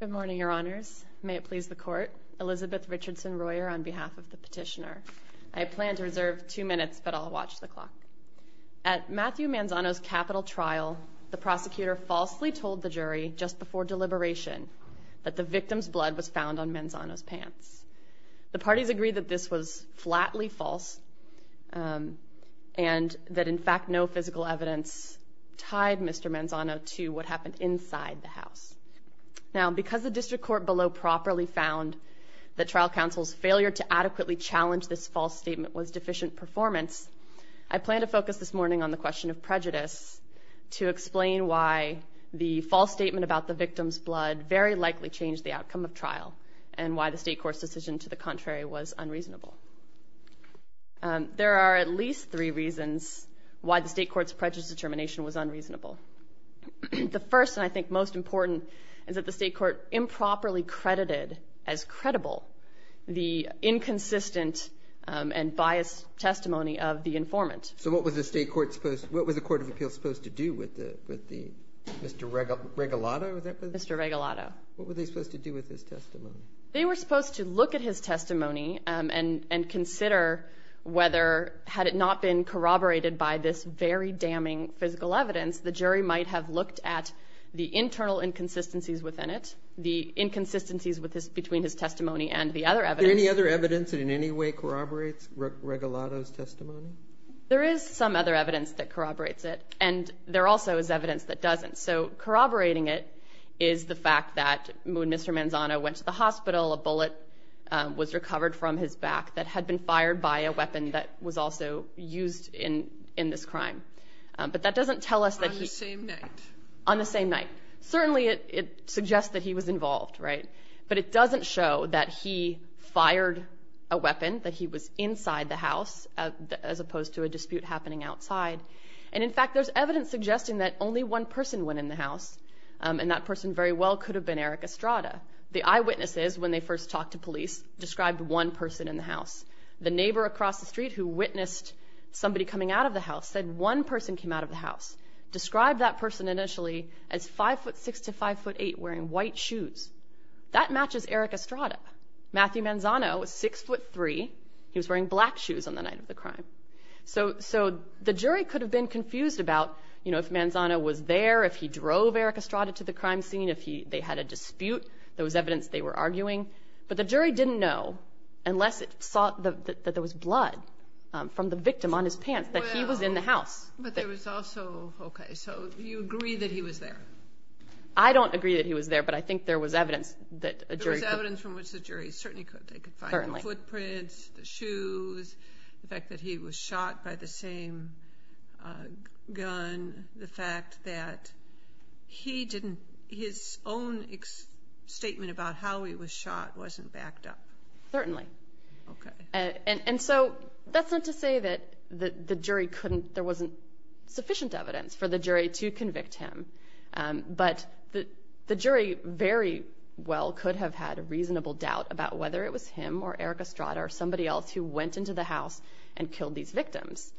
Good morning, your honors. May it please the court. Elizabeth Richardson-Royer on behalf of the petitioner. I plan to reserve two minutes, but I'll watch the clock. At Matthew Manzano's capital trial, the prosecutor falsely told the jury just before deliberation that the victim's blood was found on Manzano's pants. The parties agreed that this was flatly false and that, in fact, no physical evidence tied Mr. Manzano to what happened inside the house. Now because the district court below properly found that trial counsel's failure to adequately challenge this false statement was deficient performance, I plan to focus this morning on the question of prejudice to explain why the false statement about the victim's blood very likely changed the outcome of trial and why the state court's decision to the contrary was unreasonable. There are at least three reasons why the state court's prejudice determination was unreasonable. The first, and I think most important, is that the state court improperly credited as credible the inconsistent and biased testimony of the informant. So what was the state court supposed to do with the Mr. Regalado, is that what it was? Mr. Regalado. What were they supposed to do with his testimony? They were supposed to look at his testimony and consider whether, had it not been corroborated by this very damning physical evidence, the jury might have looked at the internal inconsistencies within it, the inconsistencies between his testimony and the other evidence. Any other evidence that in any way corroborates Regalado's testimony? There is some other evidence that corroborates it and there also is evidence that doesn't. So corroborating it is the fact that Mr. Manzano went to the hospital, a bullet was recovered from his back that had been fired by a weapon that was also used in this crime. But that doesn't tell us that he... On the same night? On the same night. Certainly it suggests that he was involved, right? But it doesn't show that he fired a weapon, that he was inside the house as opposed to a dispute happening outside. And in fact, there's evidence suggesting that only one person went in the house and that person very well could have been Eric Estrada. The eyewitnesses, when they first talked to police, described one person in the house. The neighbor across the street who witnessed somebody coming out of the house said one person came out of the house. Describe that person initially as 5'6"-5'8", wearing white shoes. That matches Eric Estrada. Matthew Manzano was 6'3", he was wearing black shoes on the night of the crime. So the jury could have been confused about if Manzano was there, if he drove Eric Estrada to the crime scene, if they had a dispute. There was evidence they were arguing. But the jury didn't know, unless it saw that there was blood from the victim on his pants, that he was in the house. But there was also... Okay, so you agree that he was there? I don't agree that he was there, but I think there was evidence that a jury could... There was evidence from which the jury certainly could. They could find the footprints, the fact that he was shot by the same gun, the fact that he didn't... His own statement about how he was shot wasn't backed up. Certainly. And so, that's not to say that the jury couldn't... There wasn't sufficient evidence for the jury to convict him. But the jury very well could have had a reasonable doubt about whether it was him or Eric Estrada or somebody else who went into the house and killed these victims.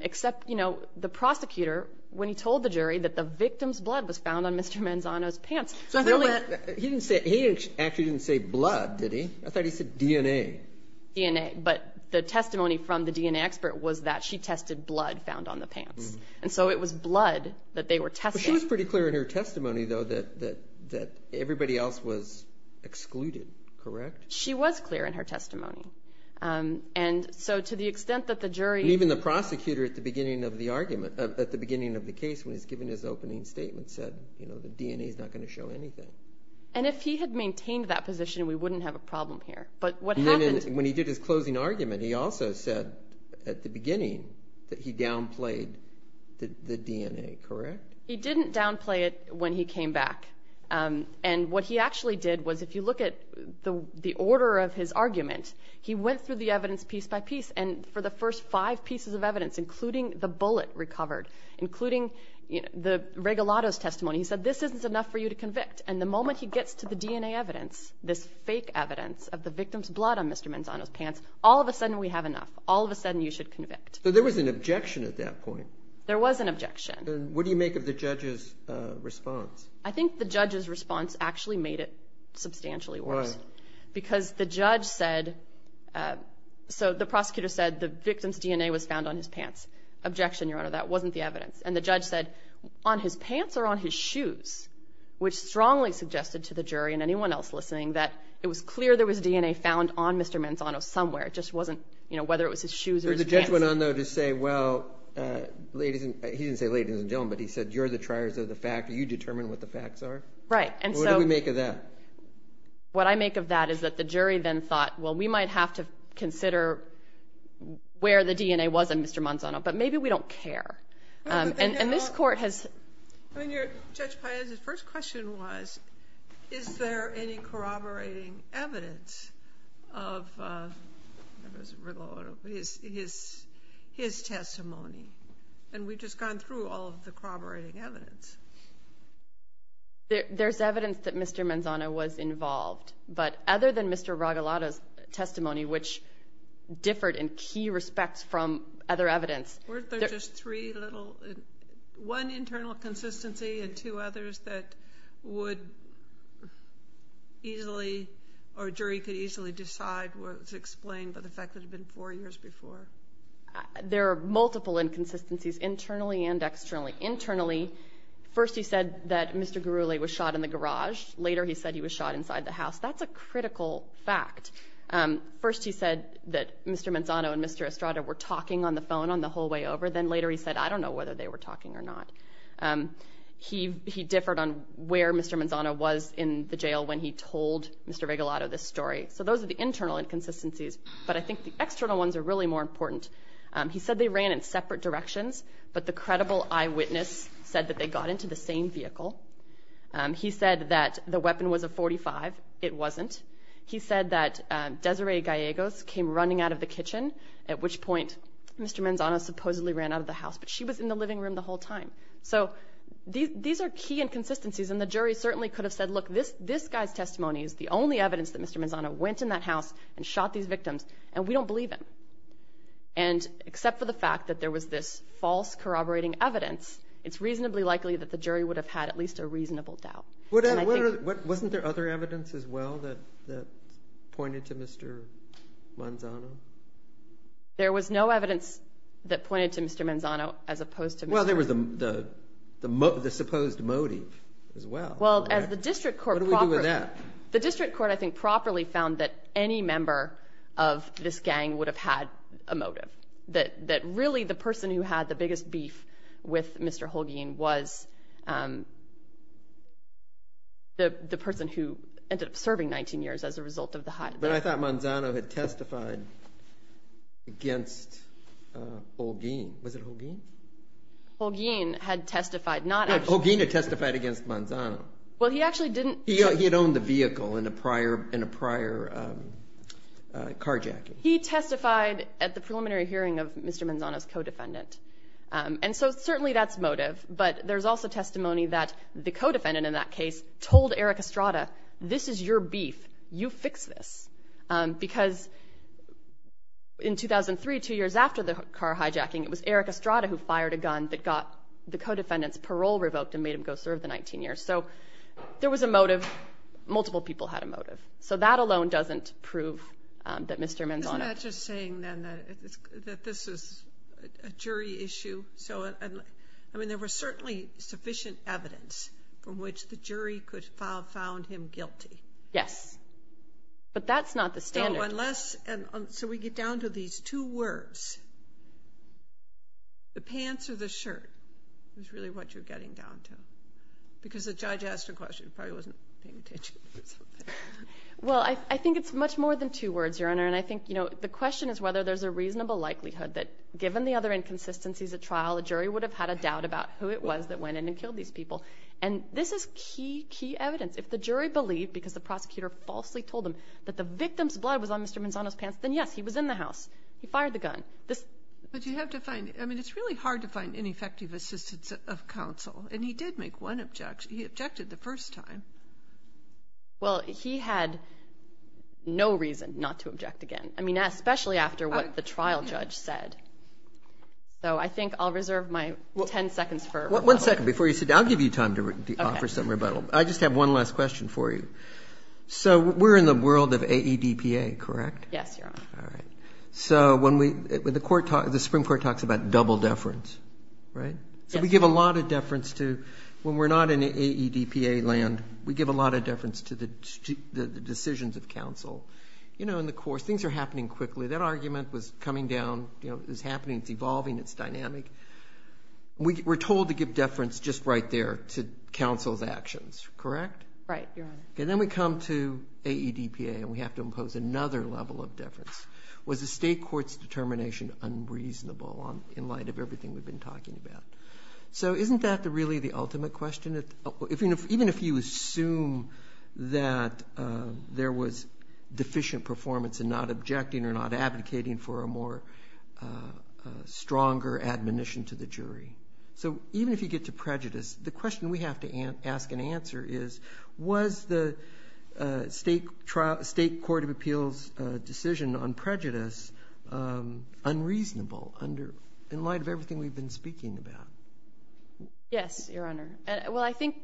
Except, the prosecutor, when he told the jury that the victim's blood was found on Mr. Manzano's pants, I thought that... He didn't say... He actually didn't say blood, did he? I thought he said DNA. DNA. But the testimony from the DNA expert was that she tested blood found on the pants. And so it was blood that they were testing. She was pretty clear in her testimony, though, that everybody else was excluded, correct? She was clear in her testimony. And so, to the extent that the jury... Even the prosecutor, at the beginning of the argument, at the beginning of the case, when he was giving his opening statement, said, you know, the DNA is not going to show anything. And if he had maintained that position, we wouldn't have a problem here. But what happened... When he did his closing argument, he also said, at the beginning, that he downplayed the DNA, correct? He didn't downplay it when he came back. And what he actually did was, if you look at the order of his argument, he went through the evidence piece by piece. And for the first five pieces of evidence, including the bullet recovered, including the Regalado's testimony, he said, this isn't enough for you to convict. And the moment he gets to the DNA evidence, this fake evidence of the victim's blood on Mr. Manzano's pants, all of a sudden we have enough. All of a sudden you should convict. So there was an objection at that point? There was an objection. And what do you make of the judge's response? I think the judge's response actually made it substantially worse. Why? Because the judge said... So the prosecutor said the victim's DNA was found on his pants. Objection, Your Honor, that wasn't the evidence. And the judge said, on his pants or on his shoes, which strongly suggested to the jury and anyone else listening that it was clear there was DNA found on Mr. Manzano somewhere. It just wasn't, you know, whether it was his shoes or his pants. The judge went on, though, to say, well, ladies and... He didn't say ladies and gentlemen, but he said, you're the triers of the fact. You determine what the facts are. And so... What do we make of that? What I make of that is that the jury then thought, well, we might have to consider where the DNA was in Mr. Manzano, but maybe we don't care. And this court has... I mean, Judge Paez's first question was, is there any corroborating evidence of... I don't know if it's his testimony. And we've just gone through all of the corroborating evidence. There's evidence that Mr. Manzano was involved, but other than Mr. Ragalata's testimony, which differed in key respects from other evidence... Weren't there just three little... One internal consistency and two others that would easily... So the fact that it had been four years before. There are multiple inconsistencies, internally and externally. Internally, first he said that Mr. Gurule was shot in the garage. Later he said he was shot inside the house. That's a critical fact. First he said that Mr. Manzano and Mr. Estrada were talking on the phone on the whole way over. Then later he said, I don't know whether they were talking or not. He differed on where Mr. Manzano was in the jail when he told Mr. Ragalata this story, but I think the external ones are really more important. He said they ran in separate directions, but the credible eyewitness said that they got into the same vehicle. He said that the weapon was a .45. It wasn't. He said that Desiree Gallegos came running out of the kitchen, at which point Mr. Manzano supposedly ran out of the house, but she was in the living room the whole time. So these are key inconsistencies, and the jury certainly could have said, look, this guy's testimony is the only evidence that Mr. Manzano went in that house and shot these victims, and we don't believe him. Except for the fact that there was this false corroborating evidence, it's reasonably likely that the jury would have had at least a reasonable doubt. Wasn't there other evidence as well that pointed to Mr. Manzano? There was no evidence that pointed to Mr. Manzano as opposed to Mr. Estrada. Well, there was the supposed motive as well. What do we do with that? The district court, I think, properly found that any member of this gang would have had a motive, that really the person who had the biggest beef with Mr. Holguin was the person who ended up serving 19 years as a result of the hide-and-seek. But I thought Manzano had testified against Holguin. Was it Holguin? Holguin had testified, not Estrada. Holguin had testified against Manzano. Well, he actually didn't. He had owned the vehicle in a prior carjacking. He testified at the preliminary hearing of Mr. Manzano's co-defendant. And so certainly that's motive, but there's also testimony that the co-defendant in that case told Eric Estrada, this is your beef, you fix this. Because in 2003, two years after the car hijacking, it was Eric Estrada who fired a gun that got the co-defendant's parole revoked and made him go serve the 19 years. So there was a motive. Multiple people had a motive. So that alone doesn't prove that Mr. Manzano... Isn't that just saying then that this is a jury issue? I mean, there was certainly sufficient evidence from which the jury could have found him guilty. Yes. But that's not the standard. So unless... So we get down to these two words, the pants or the shirt, is really what you're getting down to. Because the judge asked a question, probably wasn't paying attention or something. Well, I think it's much more than two words, Your Honor. And I think the question is whether there's a reasonable likelihood that given the other inconsistencies at trial, the jury would have had a doubt about who it was that went in and killed these people. And this is key, key evidence. If the jury believed, because the prosecutor falsely told them that the victim's blood was on Mr. Manzano's pants, then yes, he was in the house. He fired the gun. But you have to find... I mean, it's really hard to find ineffective assistance of counsel. And he did make one objection. He objected the first time. Well, he had no reason not to object again. I mean, especially after what the trial judge said. So I think I'll reserve my 10 seconds for rebuttal. One second before you sit down. I'll give you time to offer some rebuttal. I just have one last question for you. So we're in the world of AEDPA, correct? Yes, Your Honor. All right. So when we... The Supreme Court talks about double deference, right? Yes, Your Honor. So we give a lot of deference to... When we're not in AEDPA land, we give a lot of deference to the decisions of counsel. You know, in the course, things are happening quickly. That argument was coming down, you know, it's happening, it's evolving, it's dynamic. We're giving deference just right there to counsel's actions, correct? Right, Your Honor. Okay. Then we come to AEDPA and we have to impose another level of deference. Was the state court's determination unreasonable in light of everything we've been talking about? So isn't that really the ultimate question? Even if you assume that there was deficient performance in not objecting or not advocating for a more stronger admonition to the jury. So even if you get to prejudice, the question we have to ask and answer is, was the state court of appeals decision on prejudice unreasonable under... In light of everything we've been speaking about? Yes, Your Honor. Well, I think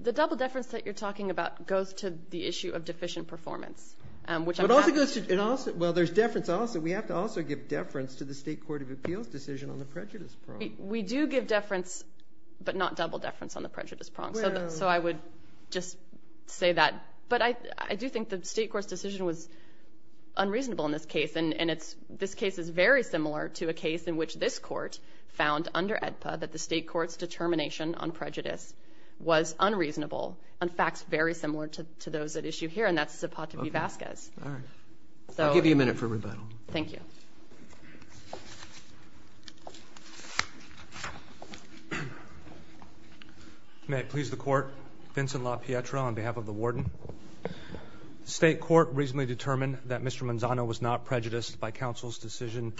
the double deference that you're talking about goes to the issue of deficient performance, which I'm happy... It also goes to... Well, there's deference also. We have to also give deference to the state court of appeals decision on the prejudice problem. We do give deference, but not double deference on the prejudice problem. So I would just say that. But I do think the state court's decision was unreasonable in this case. And this case is very similar to a case in which this court found under AEDPA that the state court's determination on prejudice was unreasonable. In fact, it's very similar to those at issue here and that's Zapata v. Vasquez. Okay. All right. I'll give you a minute for rebuttal. Thank you. May it please the court. Vincent LaPietra on behalf of the warden. The state court reasonably determined that Mr. Manzano was not prejudiced by counsel's decision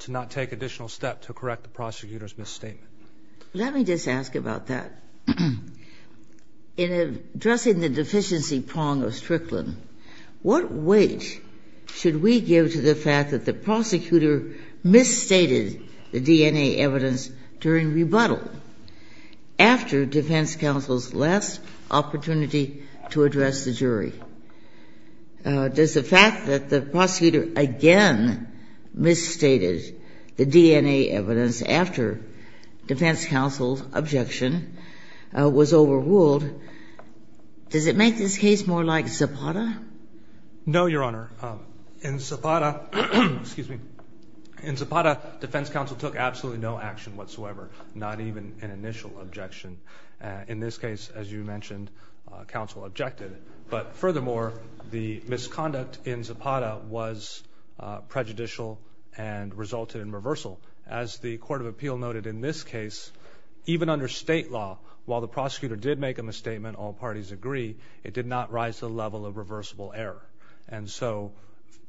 to not take additional steps to correct the prosecutor's misstatement. Let me just ask about that. In addressing the deficiency prong of Strickland, what weight should we give to the fact that the prosecutor misstated the DNA evidence during rebuttal after defense counsel's last opportunity to address the jury? Does the fact that the prosecutor again misstated the DNA evidence after defense counsel's objection was overruled, does it make this case more like Zapata? No, Your Honor. In Zapata, defense counsel took absolutely no action whatsoever, not even an initial objection. In this case, as you mentioned, counsel objected. But furthermore, the misconduct in Zapata was prejudicial and resulted in reversal. As the court of appeal noted in this case, even under state law, while the prosecutor did make a misstatement, all parties agree, it did not rise to the level of reversible error. And so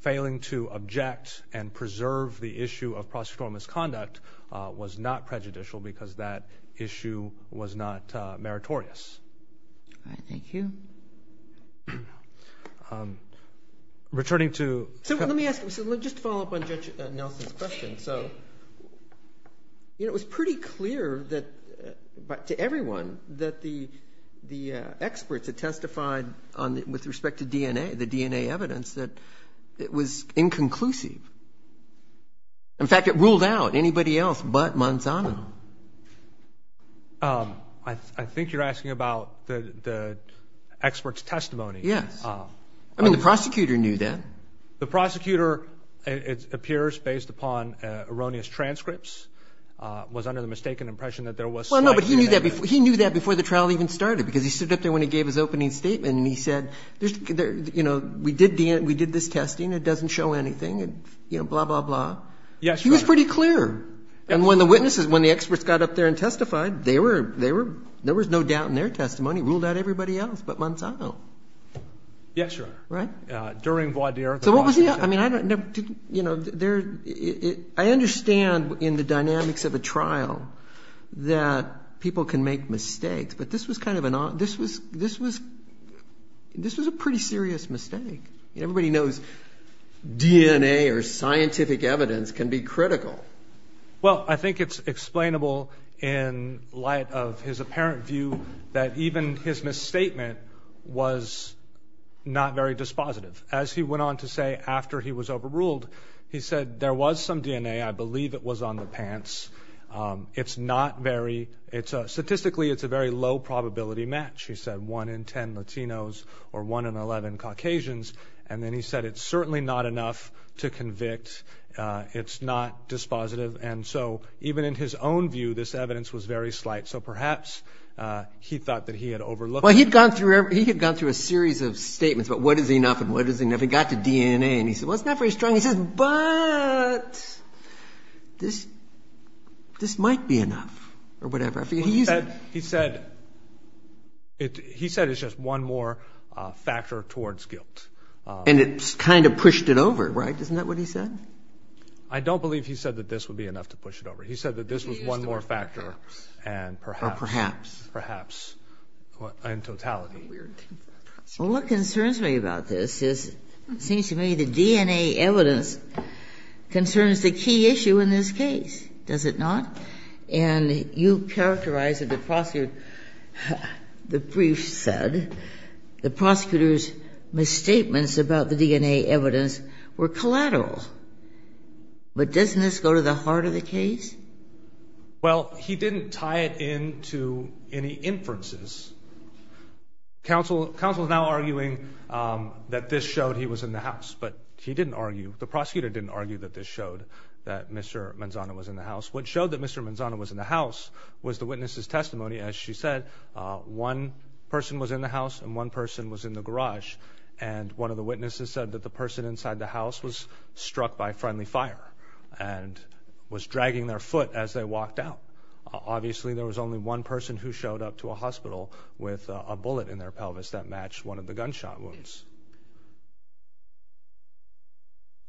failing to object and preserve the issue of prosecutorial misconduct was not prejudicial because that issue was not meritorious. All right. Thank you. Returning to- So let me ask, just to follow up on Judge Nelson's question. So it was pretty clear to everyone that the experts had testified with respect to DNA, the DNA evidence, that it was inconclusive. In fact, it ruled out anybody else but Manzano. I think you're asking about the experts' testimony. Yes. I mean, the prosecutor knew that. The prosecutor, it appears, based upon erroneous transcripts, was under the mistaken impression that there was- Well, no, but he knew that before the trial even started because he stood up there when he gave his opening statement and he said, you know, we did DNA, we did this testing. It doesn't show anything. You know, blah, blah, blah. Yes, Your Honor. He was pretty clear. And when the witnesses, when the experts got up there and testified, they were, there was no doubt in their testimony. It ruled out everybody else but Manzano. Yes, Your Honor. Right? During Voie d'Hier, the prosecutor- So what was the, I mean, I don't, you know, there, I understand in the dynamics of a trial that people can make mistakes, but this was kind of an, this was, this was, this was a pretty serious mistake. Everybody knows DNA or scientific evidence can be critical. Well, I think it's explainable in light of his apparent view that even his misstatement was not very dispositive. As he went on to say after he was overruled, he said, there was some DNA. I believe it was on the pants. It's not very, it's a, statistically, it's a very low probability match. He said one in 10 Latinos or one in 11 Caucasians. And then he said, it's certainly not enough to convict. It's not dispositive. And so even in his own view, this evidence was very slight. So perhaps he thought that he had overlooked- Well, he'd gone through, he had gone through a series of statements about what is enough and what is enough. He got to DNA and he said, well, it's not very strong. He says, but this, this might be enough or whatever. I figured he's- He said, he said it, he said it's just one more factor towards guilt. And it kind of pushed it over, right? Isn't that what he said? I don't believe he said that this would be enough to push it over. He said that this was one more factor. And perhaps- That's weird. What concerns me about this is, it seems to me, the DNA evidence concerns the key issue in this case. Does it not? And you characterized that the prosecutor's misstatements about the DNA evidence were collateral. But doesn't this go to the heart of the case? Well, he didn't tie it into any inferences. Counsel is now arguing that this showed he was in the house. But he didn't argue, the prosecutor didn't argue that this showed that Mr. Manzano was in the house. What showed that Mr. Manzano was in the house was the witness's testimony. As she said, one person was in the house and one person was in the garage. And one of the witnesses said that the person inside the house was struck by a bullet in the foot as they walked out. Obviously, there was only one person who showed up to a hospital with a bullet in their pelvis that matched one of the gunshot wounds.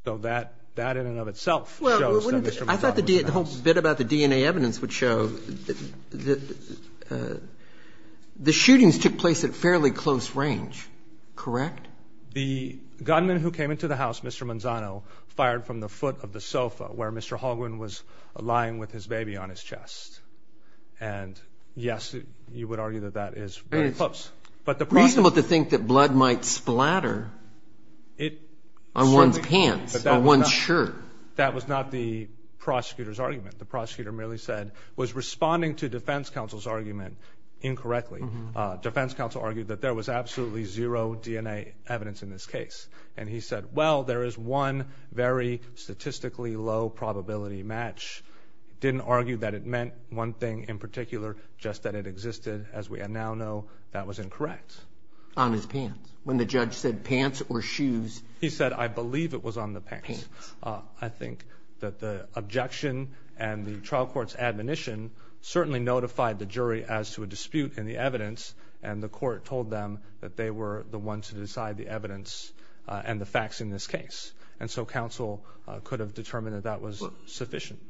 So that in and of itself shows that Mr. Manzano was in the house. Well, I thought the whole bit about the DNA evidence would show that the shootings took place at fairly close range. Correct? The gunman who came into the house, Mr. Manzano, fired from the foot of the sofa where Mr. Manzano was lying with his baby on his chest. And yes, you would argue that that is very close. But the prosecutor... It's reasonable to think that blood might splatter on one's pants, on one's shirt. That was not the prosecutor's argument. The prosecutor merely said, was responding to defense counsel's argument incorrectly. Defense counsel argued that there was absolutely zero DNA evidence in this case. And he said, well, there is one very statistically low probability match. Didn't argue that it meant one thing in particular, just that it existed. As we now know, that was incorrect. On his pants? When the judge said, pants or shoes? He said, I believe it was on the pants. I think that the objection and the trial court's admonition certainly notified the jury as to a dispute in the evidence. And the court told them that they were the ones who decide the evidence and the facts in this case. And so counsel could have determined that that was sufficient.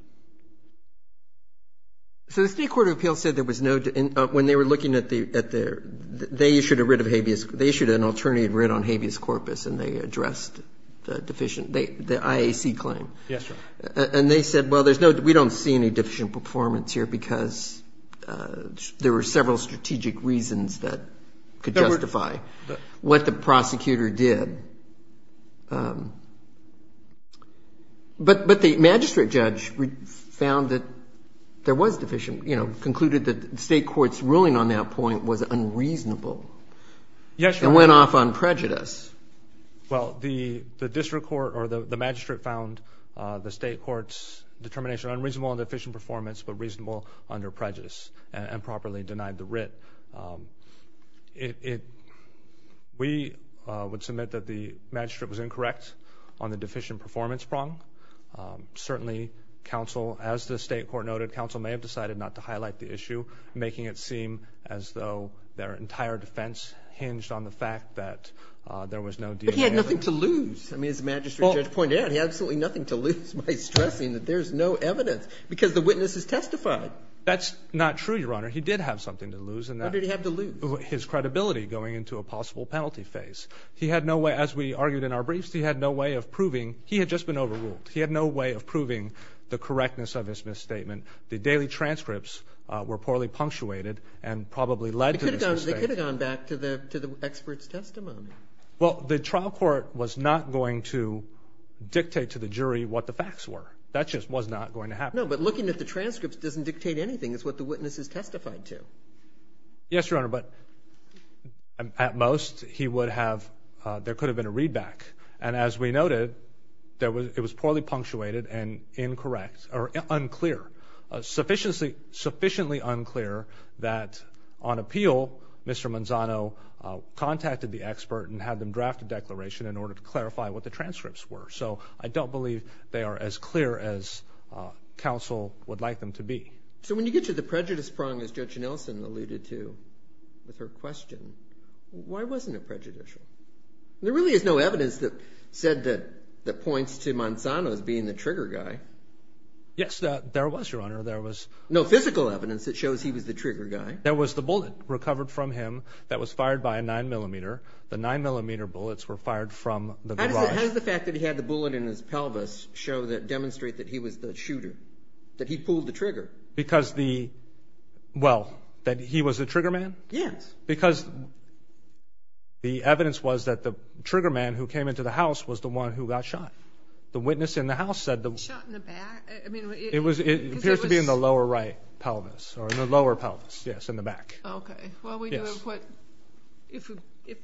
So the State Court of Appeals said there was no, when they were looking at the, they issued a writ of habeas, they issued an alternative writ on habeas corpus, and they addressed the deficient, the IAC claim. Yes, Your Honor. And they said, well, there's no, we don't see any deficient performance here because there were several strategic reasons that could justify what the prosecutor did. But the magistrate judge found that there was deficient, you know, concluded that the State Court's ruling on that point was unreasonable. Yes, Your Honor. It went off on prejudice. Well, the district court or the magistrate found the State Court's determination unreasonable on deficient performance but reasonable under prejudice and properly denied the writ. It, we would submit that the magistrate was incorrect on the deficient performance prong. Certainly, counsel, as the State Court noted, counsel may have decided not to highlight the issue, making it seem as though their entire defense hinged on the fact that there was no DNA evidence. But he had nothing to lose. I mean, as the magistrate judge pointed out, he had absolutely nothing to lose by stressing that there's no evidence because the witness has testified. That's not true, Your Honor. He did have something to lose in that. What did he have to lose? His credibility going into a possible penalty phase. He had no way, as we argued in our briefs, he had no way of proving, he had just been overruled. He had no way of proving the correctness of his misstatement. The daily transcripts were poorly punctuated and probably led to this mistake. They could have gone back to the expert's testimony. Well, the trial court was not going to dictate to the jury what the facts were. That just was not going to happen. No, but looking at the transcripts doesn't dictate anything. It's what the witness has testified to. Yes, Your Honor. But at most, he would have, there could have been a readback. And as we noted, it was poorly punctuated and incorrect, or unclear, sufficiently unclear that on appeal, Mr. Manzano contacted the expert and had them draft a declaration in order to clarify what the transcripts were. So I don't believe they are as clear as counsel would like them to be. So when you get to the prejudice prong, as Judge Nelson alluded to with her question, why wasn't it prejudicial? There really is no evidence that said that, that points to Manzano as being the trigger guy. Yes, there was, Your Honor. There was. No physical evidence that shows he was the trigger guy. There was the bullet recovered from him that was fired by a 9mm. The 9mm bullets were fired from the garage. How does the fact that he had the bullet in his pelvis show that, demonstrate that he was the shooter? That he pulled the trigger? Because the, well, that he was the trigger man? Yes. Because the evidence was that the trigger man who came into the house was the one who got shot. The witness in the house said the... Shot in the back? I mean, it... In the right pelvis, or in the lower pelvis, yes, in the back. Okay. Well, we do have what, if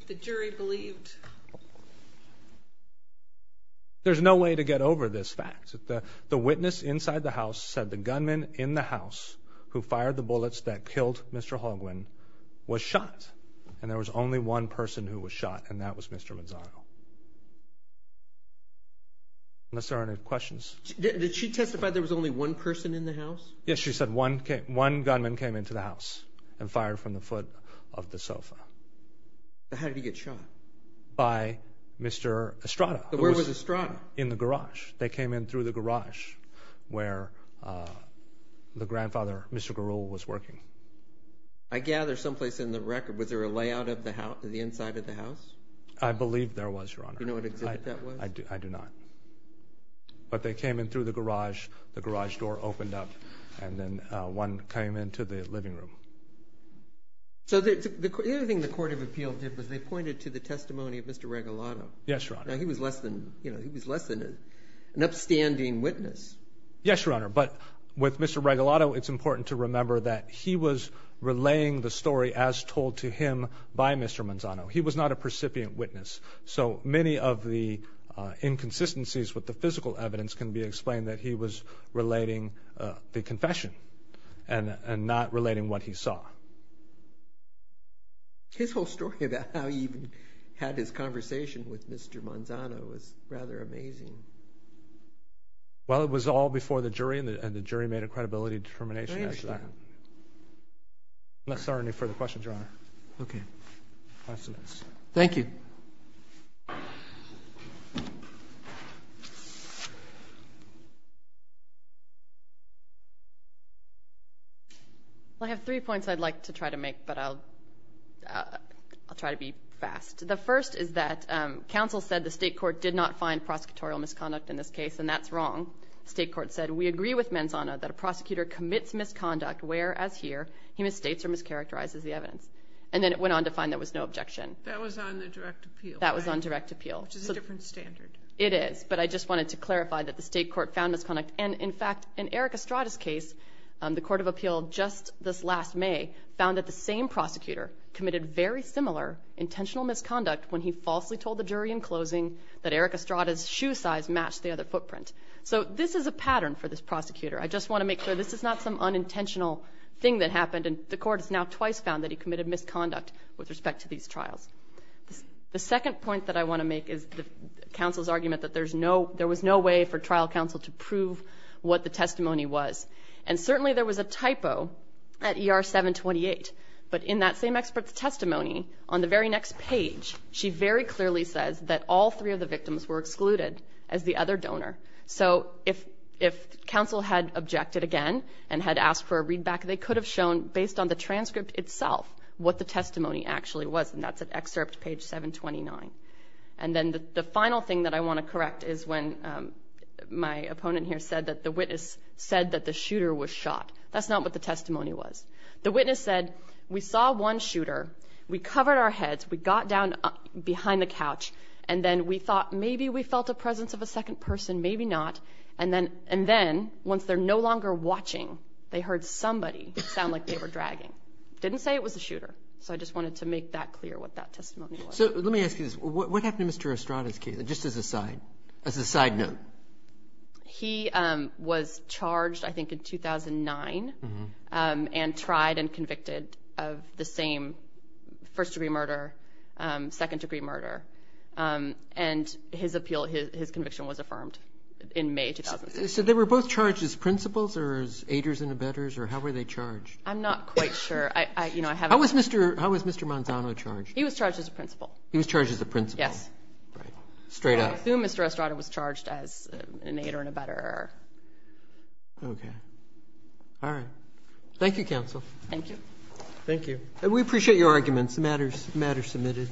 the jury believed... There's no way to get over this fact, that the witness inside the house said the gunman in the house who fired the bullets that killed Mr. Hogwin was shot. And there was only one person who was shot, and that was Mr. Manzano. Unless there are any questions? Did she testify there was only one person in the house? Yes, she said one gunman came into the house and fired from the foot of the sofa. How did he get shot? By Mr. Estrada. Where was Estrada? In the garage. They came in through the garage where the grandfather, Mr. Garul, was working. I gather someplace in the record, was there a layout of the house, the inside of the house? I believe there was, Your Honor. Do you know what exhibit that was? I do not. But they came in through the garage, the garage door opened up, and then one came into the living room. So the other thing the Court of Appeal did was they pointed to the testimony of Mr. Regalado. Yes, Your Honor. Now, he was less than, you know, he was less than an upstanding witness. Yes, Your Honor. But with Mr. Regalado, it's important to remember that he was relaying the story as told to him by Mr. Manzano. He was not a precipient witness. So many of the inconsistencies with the physical evidence can be explained that he was relating the confession and not relating what he saw. His whole story about how he even had his conversation with Mr. Manzano was rather amazing. Well, it was all before the jury, and the jury made a credibility determination as to that. I understand. Unless there are any further questions, Your Honor. Okay. Thank you. I have three points I'd like to try to make, but I'll try to be fast. The first is that counsel said the state court did not find prosecutorial misconduct in this case, and that's wrong. The state court said, we agree with Manzano that a prosecutor commits misconduct, whereas here he misstates or mischaracterizes the evidence. And then it went on to find there was no objection. That was on the direct appeal. That was on direct appeal. Which is a different standard. It is, but I just wanted to clarify that the state court found misconduct. And in fact, in Eric Estrada's case, the court of appeal just this last May found that the same prosecutor committed very similar intentional misconduct when he falsely told the jury in closing that Eric Estrada's shoe size matched the other footprint. So this is a pattern for this prosecutor. I just want to make sure this is not some unintentional thing that happened, and the court has now twice found that he committed misconduct with respect to these trials. The second point that I want to make is counsel's argument that there was no way for trial counsel to prove what the testimony was. And certainly there was a typo at ER 728, but in that same expert's testimony, on the very next page, she very clearly says that all three of the victims were excluded as the other donor. So if counsel had objected again and had asked for a readback, they could have shown, based on the transcript itself, what the testimony actually was. And that's at excerpt page 729. And then the final thing that I want to correct is when my opponent here said that the witness said that the shooter was shot. That's not what the testimony was. The witness said, we saw one shooter, we covered our heads, we got down behind the couch, and then we felt a presence of a second person, maybe not. And then, once they're no longer watching, they heard somebody sound like they were dragging. Didn't say it was a shooter. So I just wanted to make that clear, what that testimony was. So let me ask you this. What happened to Mr. Estrada's case, just as a side note? He was charged, I think, in 2009, and tried and convicted of the same first-degree murder, second-degree murder. And his appeal, his conviction was affirmed in May 2006. So they were both charged as principals or as aiders and abettors, or how were they charged? I'm not quite sure. I haven't How was Mr. Manzano charged? He was charged as a principal. He was charged as a principal. Yes. Right. Straight up. I assume Mr. Estrada was charged as an aider and abettor. Okay. All right. Thank you, counsel. Thank you. Thank you. And we appreciate your arguments. The matter's submitted.